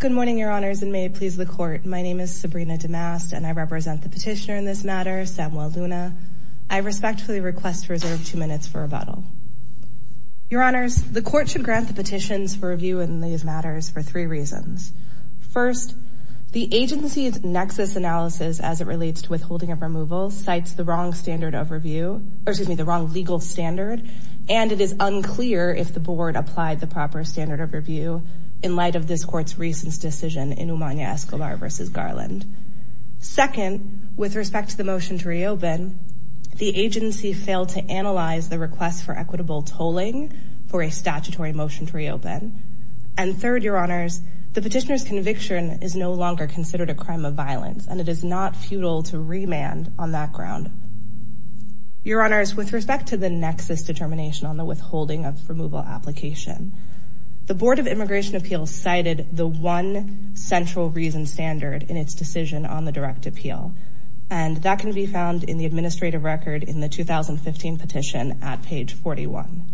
Good morning, Your Honors, and may it please the Court, my name is Sabrina DeMast and I represent the petitioner in this matter, Samuel Luna. I respectfully request reserved two minutes for rebuttal. Your Honors, the Court should grant the petitions for review in these matters for three reasons. First, the agency's nexus analysis as it relates to withholding of removal cites the wrong standard of review, or excuse me, the wrong legal standard, and it is unclear if the Board applied the proper standard of review in light of this Court's recent decision in Umania-Escobar v. Garland. Second, with respect to the motion to reopen, the agency failed to analyze the request for equitable tolling for a statutory motion to reopen. And third, Your Honors, the petitioner's conviction is no longer considered a crime of violence, and it is not futile to remand on that ground. Your Honors, with respect to the nexus determination on the withholding of removal application, the Board of Immigration Appeals cited the one central reason standard in its decision on the direct appeal, and that can be found in the administrative record in the 2015 petition at page 41.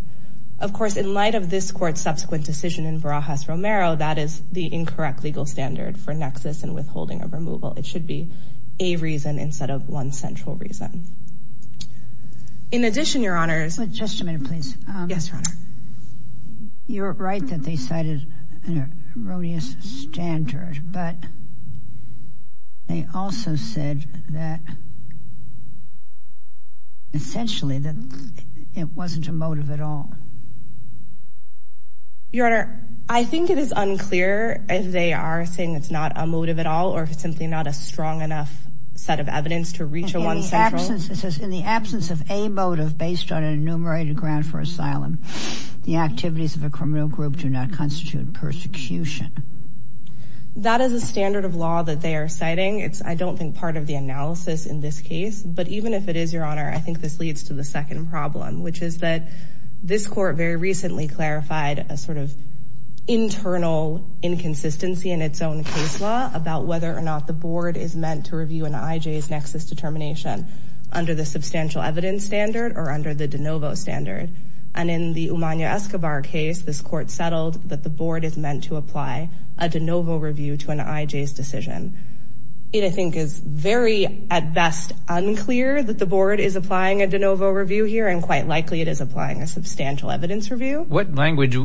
Of course, in light of this Court's subsequent decision in Barajas-Romero, that is the incorrect legal standard for nexus and withholding of removal. It should be a reason instead of one central reason. In addition, Your Honors... Just a minute, please. Yes, Your Honor. You're right that they cited an erroneous standard, but they also said that essentially that it wasn't a motive at all. Your Honor, I think it is unclear if they are saying it's not a motive at all or if it's simply not a strong enough set of evidence to reach a one central. In the absence of a motive based on an enumerated ground for asylum, the activities of a criminal group do not constitute persecution. That is a standard of law that they are citing. I don't think part of the analysis in this case, but even if it is, Your Honor, I think this leads to the second problem, which is that this Court very recently clarified a sort of internal inconsistency in its own case law about whether or not the Board is meant to review an IJ's nexus determination under the substantial evidence standard or under the de novo standard. And in the Umanya Escobar case, this Court settled that the Board is meant to apply a de novo review to an IJ's decision. It, I think, is very at clear that the Board is applying a de novo review here and quite likely it is applying a substantial evidence review. What language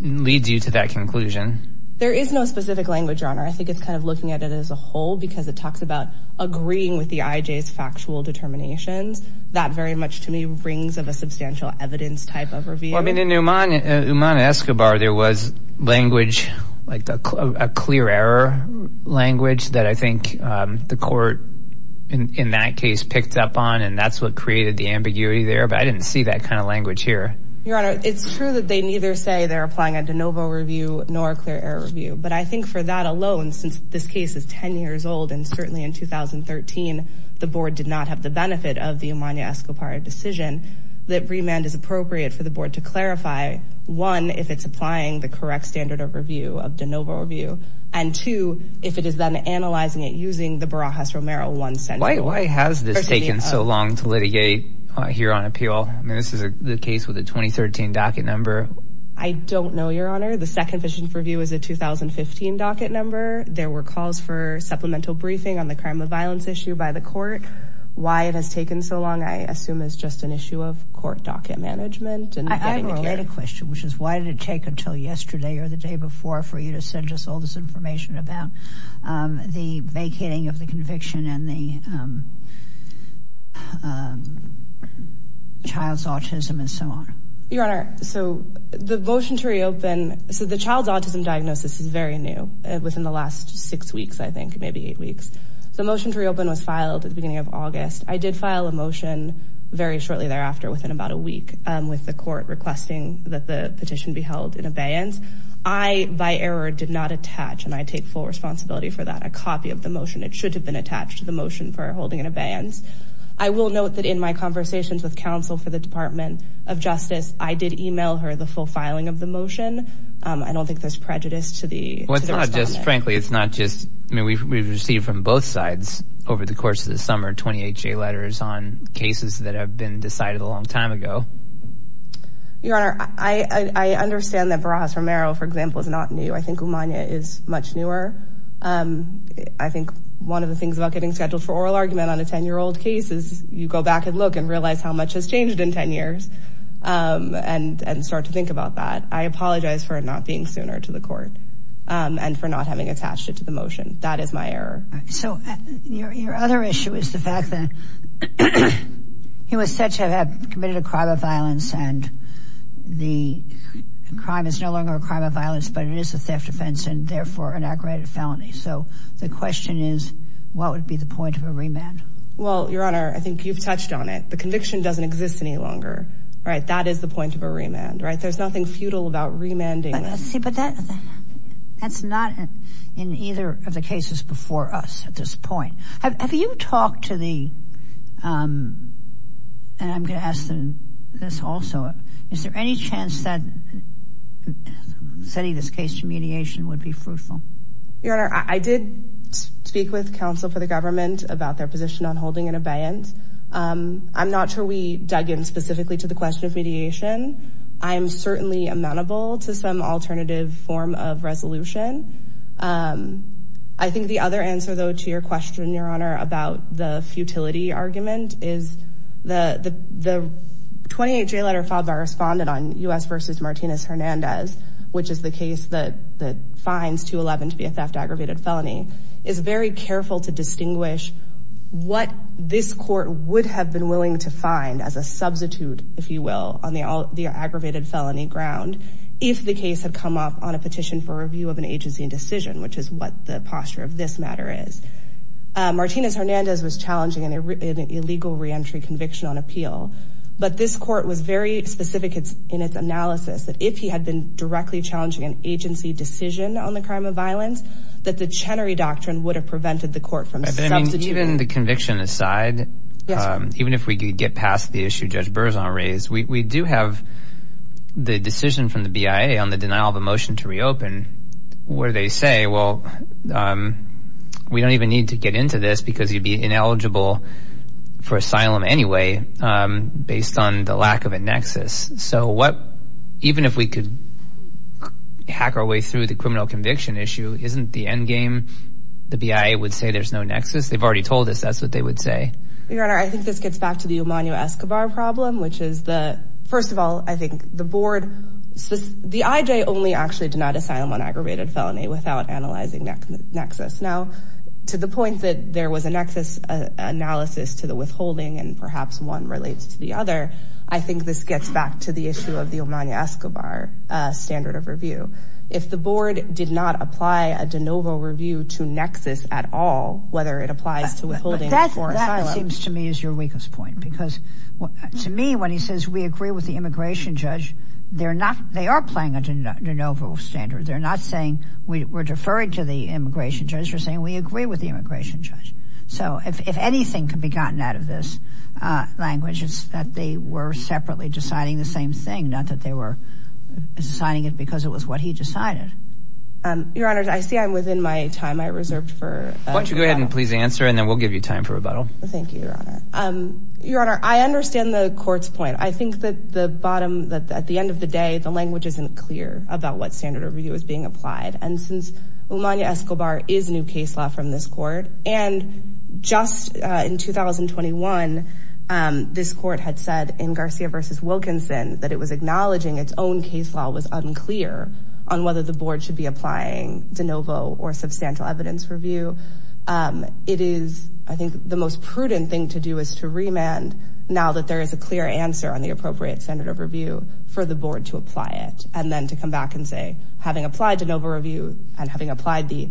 leads you to that conclusion? There is no specific language, Your Honor. I think it's kind of looking at it as a whole because it talks about agreeing with the IJ's factual determinations. That very much, to me, rings of a substantial evidence type of review. Well, I mean, in Umanya Escobar, there was language, like a clear error language, that I think the Court in that case picked up on and that's what created the ambiguity there. But I didn't see that kind of language here. Your Honor, it's true that they neither say they're applying a de novo review nor a clear error review. But I think for that alone, since this case is 10 years old and certainly in 2013, the Board did not have the benefit of the Umanya Escobar decision, that remand is appropriate for the Board to clarify, one, if it's applying the correct standard of review of de novo review, and two, if it is then analyzing it using the Barajas-Romero one standard. Why has this taken so long to litigate here on appeal? I mean, this is the case with the 2013 docket number. I don't know, Your Honor. The second fishing review is a 2015 docket number. There were calls for supplemental briefing on the crime of violence issue by the Court. Why it has taken so long, I assume, is just an issue of Court docket management. I have a related question, which is why did it take until yesterday or the day before for you to send us all this information about the vacating of the conviction and the child's autism and so on? Your Honor, so the motion to reopen, so the child's autism diagnosis is very new. It was in the last six weeks, I think, maybe eight weeks. The motion to reopen was filed at the beginning of August. I did file a motion very shortly thereafter within about a week with the Court requesting that the petition be held in abeyance. I, by error, did not attach, and I take full responsibility for that, a copy of the motion. It should have been attached to the motion for holding in abeyance. I will note that in my conversations with counsel for the Department of Justice, I did email her the full filing of the motion. I don't think there's prejudice to the respondent. Well, it's not just, frankly, it's not just, I mean, we've received from both sides over the course of the summer 28 letters on cases that have been decided a long time ago. Your Honor, I understand that Barajas-Romero, for example, is not new. I think Umania is much newer. I think one of the things about getting scheduled for oral argument on a 10-year-old case is you go back and look and realize how much has changed in 10 years and start to think about that. I apologize for not being sooner to the Court and for not having attached it to the motion. That is my error. So your other issue is the fact that he was said to have committed a crime of violence and the crime is no longer a crime of violence, but it is a theft offense and therefore an aggravated felony. So the question is, what would be the point of a remand? Well, Your Honor, I think you've touched on it. The conviction doesn't exist any longer, right? That is the point of a remand, right? There's nothing futile about remanding. But that's not in either of the cases before us at this point. Have you talked to the, and I'm going to ask this also, is there any chance that setting this case to mediation would be fruitful? Your Honor, I did speak with counsel for the government about their position on holding an abeyance. I'm not sure we dug in specifically to the question of mediation. I'm certainly amenable to some alternative form of resolution. I think the other answer, though, to your question, Your Honor, about the futility argument is the 28-J letter FOBAR responded on U.S. v. Martinez-Hernandez, which is the case that finds 211 to be a theft aggravated felony, is very careful to distinguish what this Court would have been aggravated felony ground if the case had come up on a petition for review of an agency and decision, which is what the posture of this matter is. Martinez-Hernandez was challenging an illegal reentry conviction on appeal. But this Court was very specific in its analysis that if he had been directly challenging an agency decision on the crime of violence, that the Chenery Doctrine would have prevented the Court from substituting. Even the conviction aside, even if we could get past the issue Judge Berzon raised, we do have the decision from the BIA on the denial of a motion to reopen, where they say, well, we don't even need to get into this because you'd be ineligible for asylum anyway, based on the lack of a nexus. So what, even if we could hack our way through the criminal conviction issue, isn't the end game? The BIA would say there's no nexus. They've already told us that's what they would say. Your Honor, I think this gets back to the Emanu-Escobar problem, which is the, first of all, I think the board, the IJ only actually denied asylum on aggravated felony without analyzing nexus. Now, to the point that there was a nexus analysis to the withholding and perhaps one relates to the other, I think this gets back to the issue of the Emanu-Escobar standard of review. If the board did not apply a de novo review to nexus at all, whether it applies to withholding or asylum. That seems to me is your weakest point, because to me, when he says we agree with the immigration judge, they're not, they are playing a de novo standard. They're not saying we're deferring to the immigration judge. They're saying we agree with the immigration judge. So if anything can be gotten out of this language, it's that they were separately deciding the same thing, not that they were deciding it because it was what he decided. Your Honor, I see I'm within my time. I reserved for. Why don't you go ahead and please answer and then we'll give you time for rebuttal. Thank you, Your Honor. Your Honor, I understand the court's point. I think that the bottom, that at the end of the day, the language isn't clear about what standard of review is being applied. And since Emanu-Escobar is new case law from this court, and just in 2021, this court had said in Garcia versus Wilkinson, that it was acknowledging its own case law was unclear on whether the board should be applying de novo or substantial evidence review. It is, I think the most prudent thing to do is to remand now that there is a clear answer on the appropriate standard of review for the board to apply it. And then to come back and say, having applied de novo review and having applied the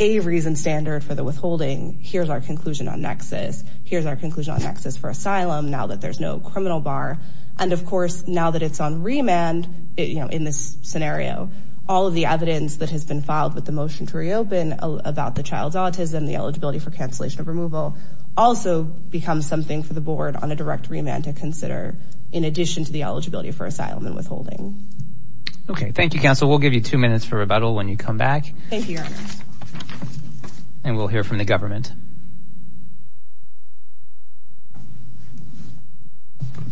a reason standard for the withholding, here's our conclusion on nexus. Here's our conclusion on nexus for asylum now that there's no criminal bar. And of course, now that it's on remand, you know, in this scenario, all of the evidence that has been filed with the motion to reopen about the child's autism, the eligibility for cancellation of removal, also becomes something for the board on a direct remand to consider in addition to the eligibility for asylum and withholding. Okay, thank you, counsel. We'll give you two minutes for rebuttal when you come back. Thank you. And we'll hear from the government.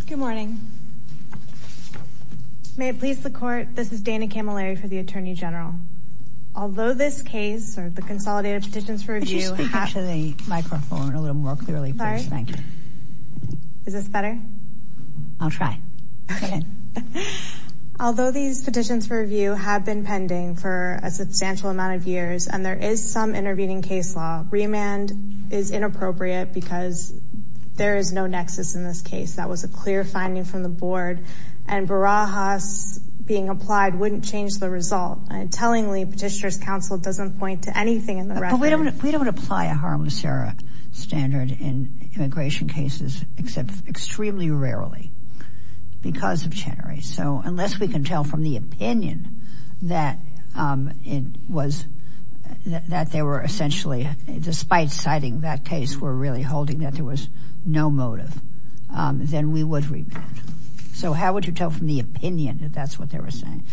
Good morning. May it please the court. This is Dana Camilleri for the Attorney General. Although this case, or the consolidated petitions for review, speak into the microphone a little more clearly, please. Thank you. Is this better? I'll try. Okay. Although these petitions for review have been pending for a substantial amount of years, and there is some intervening case law, remand is inappropriate because there is no nexus in this case. That was a clear finding from the board. And Barajas being applied wouldn't change the result. Tellingly, Petitioner's counsel doesn't point to anything in the record. We don't apply a harmless error standard in immigration cases, except extremely rarely because of Chenery. So unless we can tell from the opinion that they were essentially, despite citing that case, were really holding that there was no motive, then we would remand. So how would you tell from the opinion that that's what they were saying?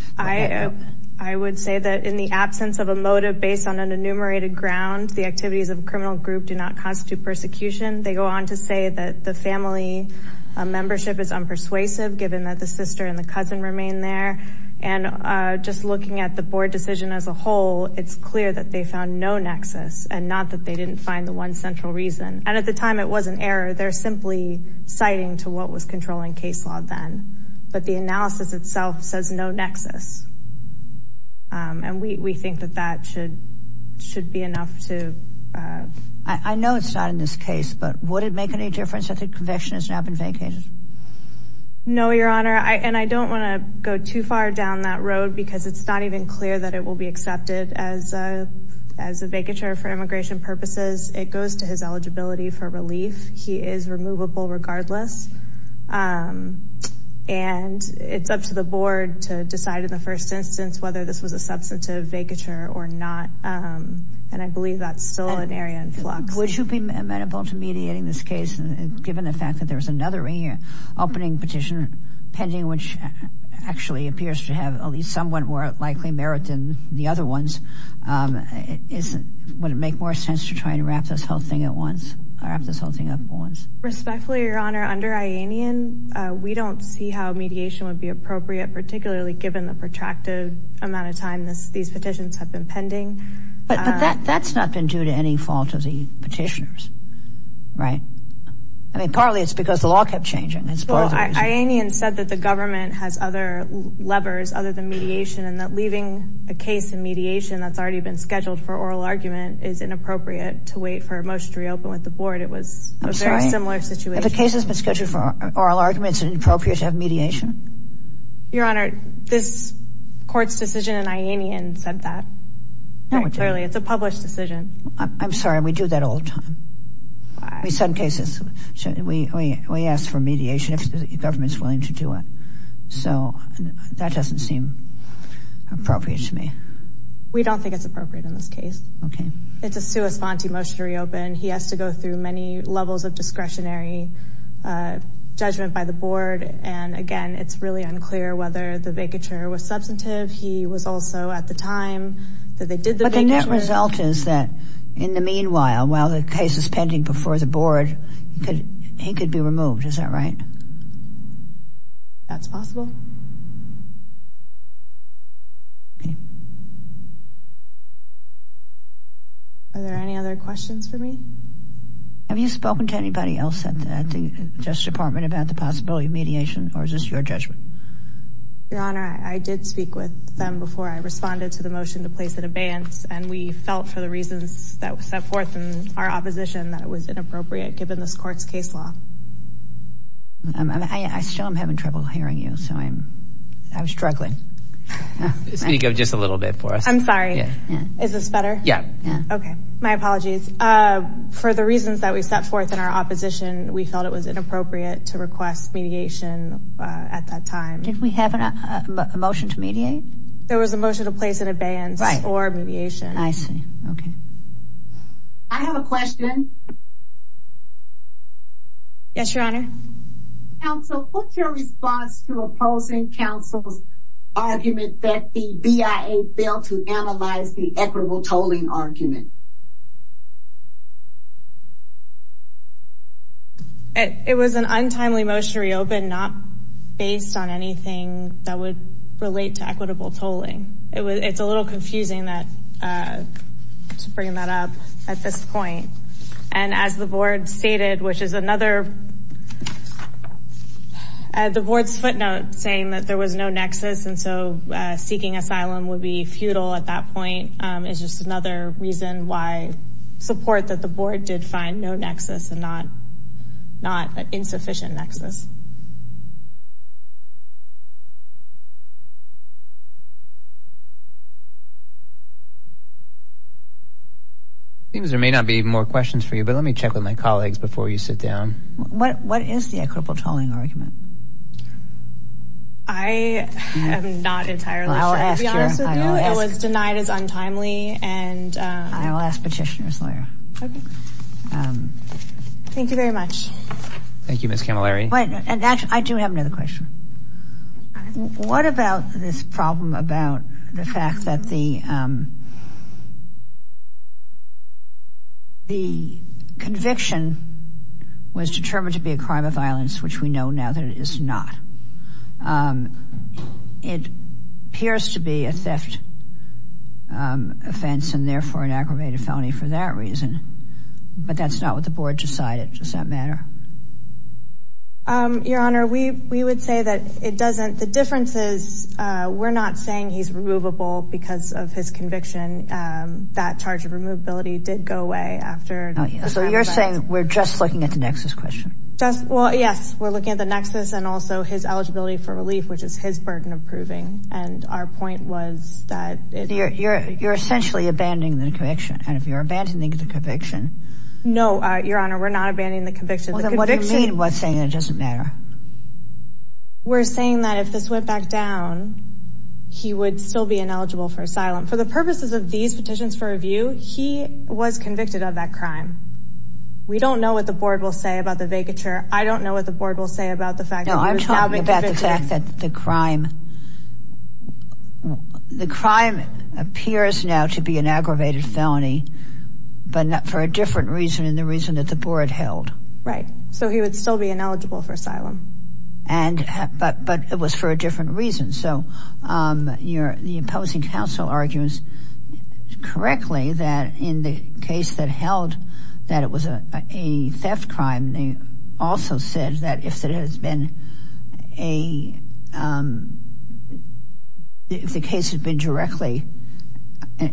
I would say that in the absence of a motive based on an enumerated ground, the activities of a criminal group do not constitute persecution. They go on to say that the family membership is unpersuasive, given that the sister and the cousin remain there. And just looking at the board decision as a whole, it's clear that they found no nexus and not that they didn't find the one central reason. And at the time, it was an error. They're simply citing to what was controlling case law then. But the analysis itself says no nexus. And we think that that should should be enough to. I know it's not in this case, but would it make any difference if the conviction has now been vacated? No, your honor. And I don't want to go too far down that road because it's not even clear that it will be accepted as a vacature for immigration purposes. It goes to his eligibility for relief. He is removable regardless. And it's up to the board to decide in the first instance whether this was a substantive vacature or not. And I believe that's still an area in flux. Would you be amenable to mediating this case, given the fact that there was another opening petition pending, which actually appears to have at least somewhat more likely merit than the other ones? Would it make more sense to try and wrap this whole thing at once, wrap this whole thing up once? Respectfully, your honor, under IANIAN, we don't see how mediation would be appropriate, particularly given the protracted amount of time this these petitions have been pending. But that's not been due to any fault of the petitioners, right? I mean, partly it's because the law kept changing. IANIAN said that the government has other levers other than mediation and that leaving a case in mediation that's already been scheduled for oral argument is inappropriate to wait for a motion to reopen with the board. It was a very similar situation. If a case has been scheduled for oral argument, it's inappropriate to have mediation? Your honor, this court's decision in IANIAN said that. Clearly, it's a published decision. I'm sorry, we do that all the time. In some cases, we ask for mediation if the government is willing to do it. So that doesn't seem appropriate to me. We don't think it's appropriate in this case. Okay. It's a sua sponte motion to reopen. He has to go through many levels of discretionary judgment by the board. And again, it's really unclear whether the vacature was substantive. He was also at the time that they did the vacature. But the net result is that in the meanwhile, while the case is pending before the board, he could be removed. Is that right? That's possible. Are there any other questions for me? Have you spoken to anybody else at the Justice Department about the possibility of mediation or is this your judgment? Your honor, I did speak with them before I responded to the motion to place an abeyance. And we felt for the reasons that were set forth in our opposition that it was inappropriate given this court's case law. I still am having trouble hearing you. So I'm struggling. Speak up just a little bit for us. I'm sorry. Is this better? Yeah. Okay. My apologies. For the reasons that we set forth in our opposition, we felt it was inappropriate to request mediation at that time. Did we have a motion to mediate? There was a motion to place an abeyance or mediation. I see. Okay. I have a question. Yes, your honor. Counsel, what's your response to opposing counsel's argument that the BIA failed to analyze the equitable tolling argument? It was an untimely motion to reopen, not based on anything that would relate to equitable tolling. It's a little confusing to bring that up at this point. And as the board stated, which is another, the board's footnote saying that there was no nexus. And so seeking asylum would be futile at that point. It's just another reason why support that the board did find no nexus and not an insufficient nexus. Seems there may not be more questions for you, but let me check with my colleagues before you sit down. What is the equitable tolling argument? I am not entirely sure, to be honest with you. It was denied as untimely and... I'll ask petitioner's lawyer. Okay. Thank you very much. Thank you, Ms. Camilleri. And actually, I do have another question. What about this problem about the fact that the conviction was determined to be a crime of violence, which we know now that it is not. It appears to be a theft offense, and therefore an aggravated felony for that reason. But that's not what the board decided. Does that matter? Your Honor, we would say that it doesn't. The difference is we're not saying he's removable because of his conviction. That charge of removability did go away after... So you're saying we're just looking at the nexus question? Well, yes, we're looking at the nexus and also his eligibility for relief, which is his burden of proving. And our point was that... You're essentially abandoning the conviction. And if you're abandoning the conviction... No, Your Honor, we're not abandoning the conviction. Well, then what do you mean by saying it doesn't matter? We're saying that if this went back down, he would still be ineligible for asylum. For the purposes of these petitions for review, he was convicted of that crime. We don't know what the board will say about the vacature. I don't know what the board will say about the fact that he was salvaged... No, I'm talking about the fact that the crime... The crime appears now to be an aggravated felony, but for a different reason than the reason that the board held. Right. So he would still be ineligible for asylum. But it was for a different reason. So you're imposing counsel arguments correctly that in the case that held that it was a theft crime, they also said that if it had been a... If the case had been directly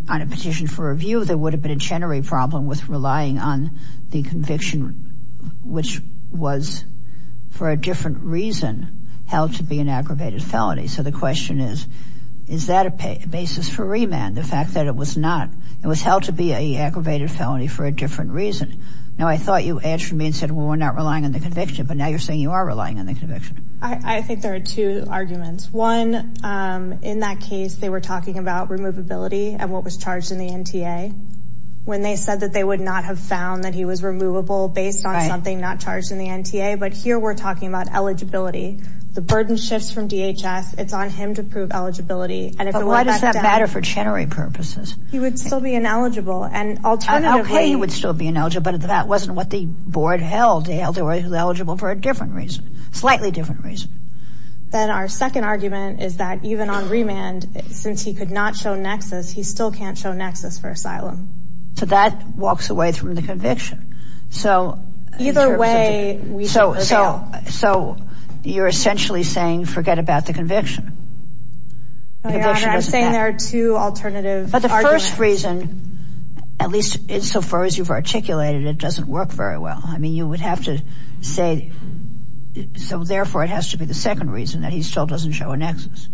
on a petition for review, there would have been a generic problem with relying on the conviction which was for a different reason held to be an aggravated felony. So the question is, is that a basis for remand? The fact that it was not... It was held to be an aggravated felony for a different reason. Now, I thought you answered me and said, well, we're not relying on the conviction, but now you're saying you are relying on the conviction. I think there are two arguments. One, in that case, they were talking about removability and what was charged in the NTA when they said that they would not have found that he was removable based on something not charged in the NTA. But here we're talking about eligibility. The burden shifts from DHS. It's on him to prove eligibility. But why does that matter for Chenery purposes? He would still be ineligible. Okay, he would still be ineligible, but that wasn't what the board held. They held he was eligible for a different reason. Slightly different reason. Then our second argument is that even on remand, since he could not show nexus, he still can't show nexus for asylum. So that walks away from the conviction. Either way... So, you're essentially saying forget about the conviction. No, Your Honor. I'm saying there are two alternative arguments. But the first reason, at least insofar as you've articulated it, doesn't work very well. You would have to say therefore it has to be the second reason that he still doesn't show a nexus.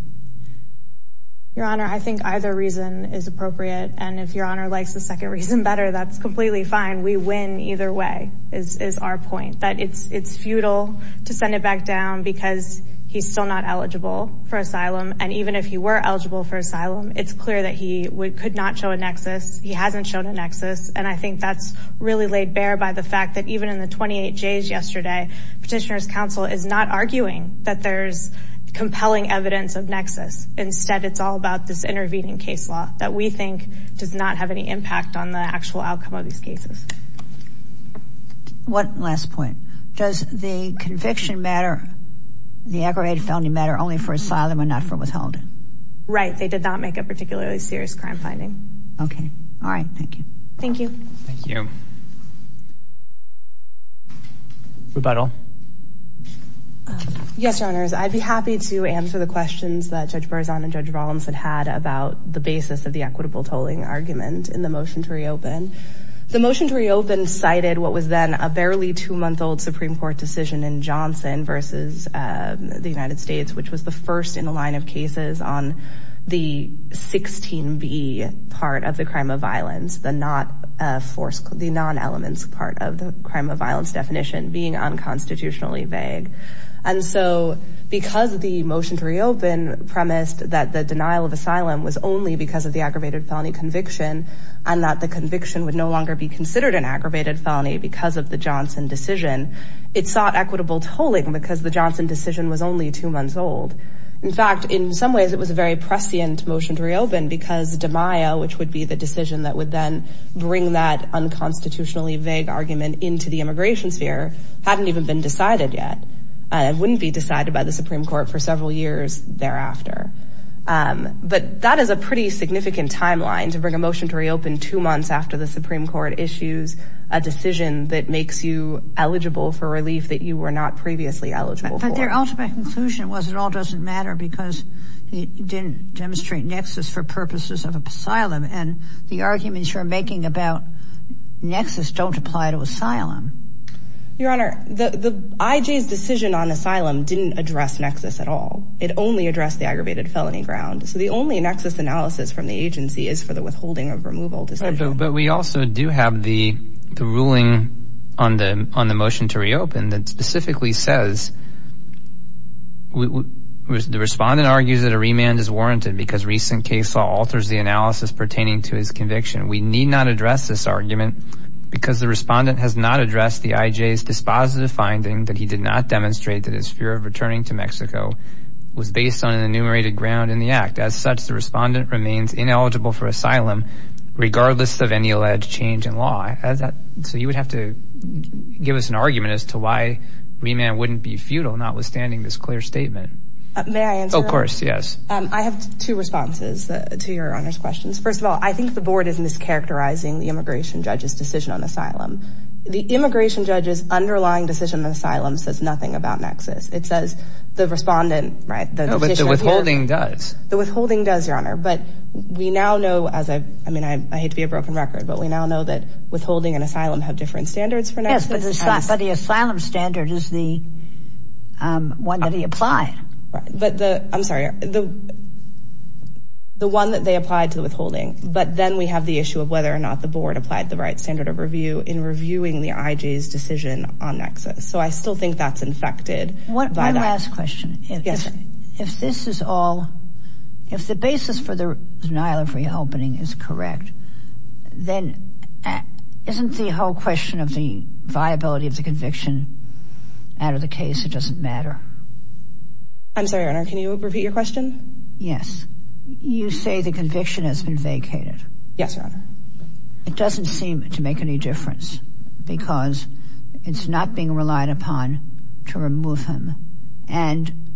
Your Honor, I think either reason is appropriate. And if Your Honor likes the second reason better, that's completely fine. We win either way, is our point. It's futile to send it back down because he's still not eligible for asylum. And even if he were eligible for asylum, it's clear that he could not show a nexus. He hasn't shown a nexus. And I think that's really laid bare by the fact that even in the 28 J's yesterday, Petitioner's Counsel is not arguing that there's compelling evidence of nexus. Instead, it's all about this intervening case law that we think does not have any impact on the actual outcome of these cases. One last point. Does the conviction matter? The aggravated felony matter only for asylum and not for withholding? Right. They did not make a particularly serious crime finding. Thank you. Thank you. Rebuttal. Yes, Your Honors. I'd be happy to answer the questions that Judge Berzon and Judge Rollins had had about the basis of the equitable tolling argument in the motion to reopen. The motion to reopen cited what was then a barely two-month-old Supreme Court decision in Johnson versus the United States, which was the first in a line of cases on the 16B part of the crime of violence. The non-elements part of the crime of violence definition being unconstitutionally vague. And so because the motion to reopen premised that the denial of asylum was only because of the aggravated felony conviction and that the conviction would no longer be considered an aggravated felony because of the Johnson decision, it sought equitable tolling because the Johnson decision was only two months old. In fact, in some ways it was a very prescient motion to reopen because DiMaio, which would be the decision that would then bring that unconstitutionally vague argument into the immigration sphere, hadn't even been decided yet. It wouldn't be decided by the Supreme Court for several years thereafter. But that is a pretty significant timeline to bring a Supreme Court issue, a decision that makes you eligible for relief that you were not previously eligible for. But their ultimate conclusion was it all doesn't matter because it didn't demonstrate nexus for purposes of asylum. And the arguments you're making about nexus don't apply to asylum. Your Honor, the IJ's decision on asylum didn't address nexus at all. It only addressed the aggravated felony ground. So the only nexus analysis from the agency is for the So I do have the ruling on the motion to reopen that specifically says the respondent argues that a remand is warranted because recent case law alters the analysis pertaining to his conviction. We need not address this argument because the respondent has not addressed the IJ's dispositive finding that he did not demonstrate that his fear of returning to Mexico was based on an enumerated ground in the act. As such, the respondent remains ineligible for asylum regardless of any alleged change in law. So you would have to give us an argument as to why remand wouldn't be futile notwithstanding this clear statement. May I answer? Of course, yes. I have two responses to Your Honor's questions. First of all, I think the board is mischaracterizing the immigration judge's decision on asylum. The immigration judge's underlying decision on asylum says nothing about nexus. It says the respondent No, but the withholding does. The withholding does, Your Honor. But we now know, I hate to be a broken record, but we now know that withholding and asylum have different standards for nexus. Yes, but the asylum standard is the one that he applied. I'm sorry. The one that they applied to the withholding. But then we have the issue of whether or not the board applied the right standard of review in reviewing the IJ's decision on nexus. So I still think that's infected by that. One last question. If this is all if the basis for the denial of reopening is correct then isn't the whole question of the viability of the conviction out of the case? It doesn't matter. I'm sorry, Your Honor. Can you repeat your question? Yes. You say the conviction has been vacated. Yes, Your Honor. It doesn't seem to make any difference because it's not being relied upon to remove him and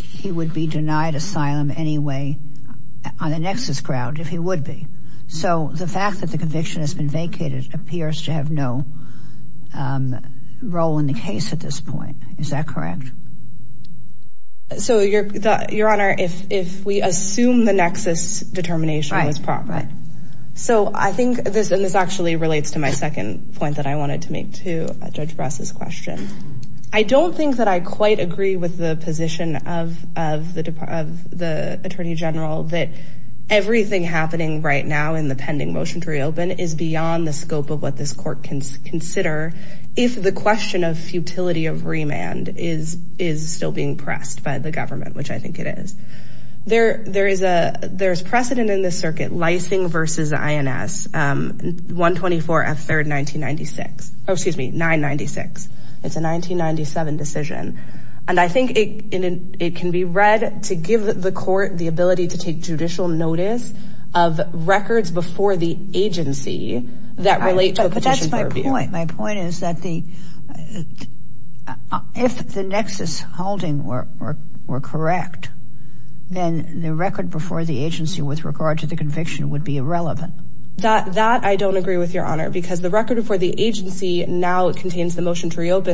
he would be denied asylum anyway on a nexus ground if he would be. So the fact that the conviction has been vacated appears to have no role in the case at this point. Is that correct? So Your Honor, if we assume the nexus determination was proper. So I think this actually relates to my second point that I wanted to make to Judge Brass' question. I don't think that I quite agree with the position of the Attorney General that everything happening right now in the pending motion to reopen is beyond the scope of what this court can consider if the question of futility of remand is still being pressed by the government, which I think it is. There's precedent in this circuit Lysing v. INS 124 F. 3rd 1996 Oh, excuse me, 996 It's a 1997 decision and I think it can be read to give the court the ability to take judicial notice of records before the agency that relate to a petition for review. But that's my point. My point is that the if the nexus holding were correct then the record before the agency with regard to the conviction would be irrelevant. That I don't agree with, Your Honor, because the record before the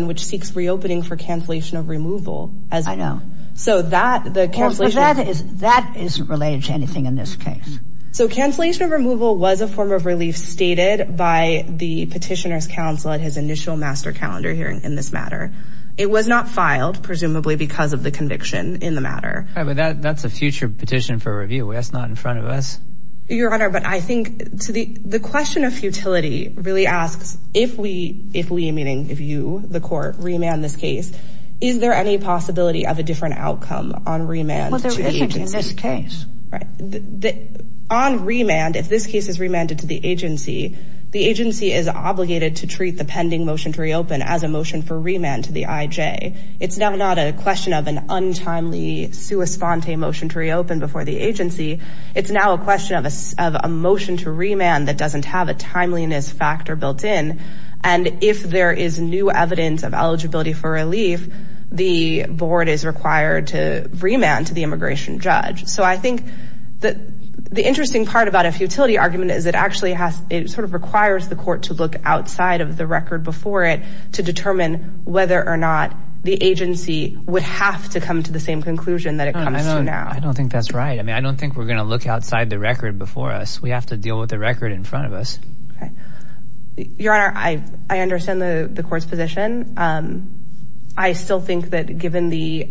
which seeks reopening for cancellation of removal. I know. That isn't related to anything in this case. So cancellation of removal was a form of relief stated by the petitioner's counsel at his initial master calendar hearing in this matter. It was not filed, presumably, because of the conviction in the matter. That's a future petition for review. That's not in front of us. Your Honor, but I think the question of futility really asks if we, meaning if you the court, remand this case is there any possibility of a different outcome on remand to the agency? Well, there isn't in this case. On remand, if this case is remanded to the agency, the agency is obligated to treat the pending motion to reopen as a motion for remand to the IJ. It's now not a question of an untimely sua sponte motion to reopen before the agency. It's now a question of a motion to remand that doesn't have a timeliness factor built in and if there is new evidence of eligibility for relief, the board is required to remand to the immigration judge. So I think that the interesting part about a futility argument is it sort of requires the court to look outside of the record before it to determine whether or not the agency would have to come to the same conclusion that it comes to now. I don't think that's right. I mean, I don't think we're going to look outside the record before us. We have to deal with the record in front of us. Your Honor, I understand the court's position. I still think that given the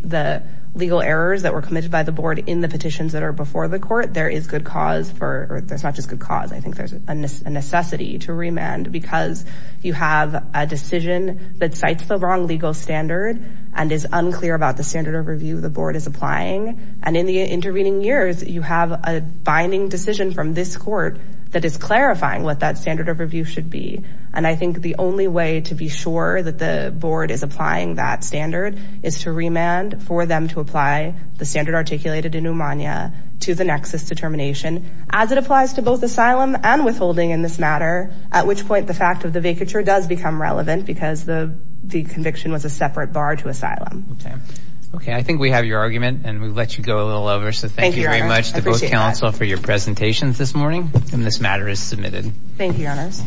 legal errors that were committed by the board in the petitions that are before the court, there is good cause for, or there's not just good cause, I think there's a necessity to remand because you have a decision that cites the wrong legal standard and is unclear about the standard of review the board is applying and in the intervening years, you have a binding decision from this court that is clarifying what that standard of review should be and I think the only way to be sure that the board is applying that standard is to remand for them to apply the standard articulated in Umania to the nexus determination as it applies to both asylum and withholding in this matter, at which point the fact of the vacature does become relevant because the conviction was a separate bar to asylum. Okay, I think we have your argument and we let you go a little over so thank you very much to both council for your presentations this morning and this matter is submitted. Thank you, your honors.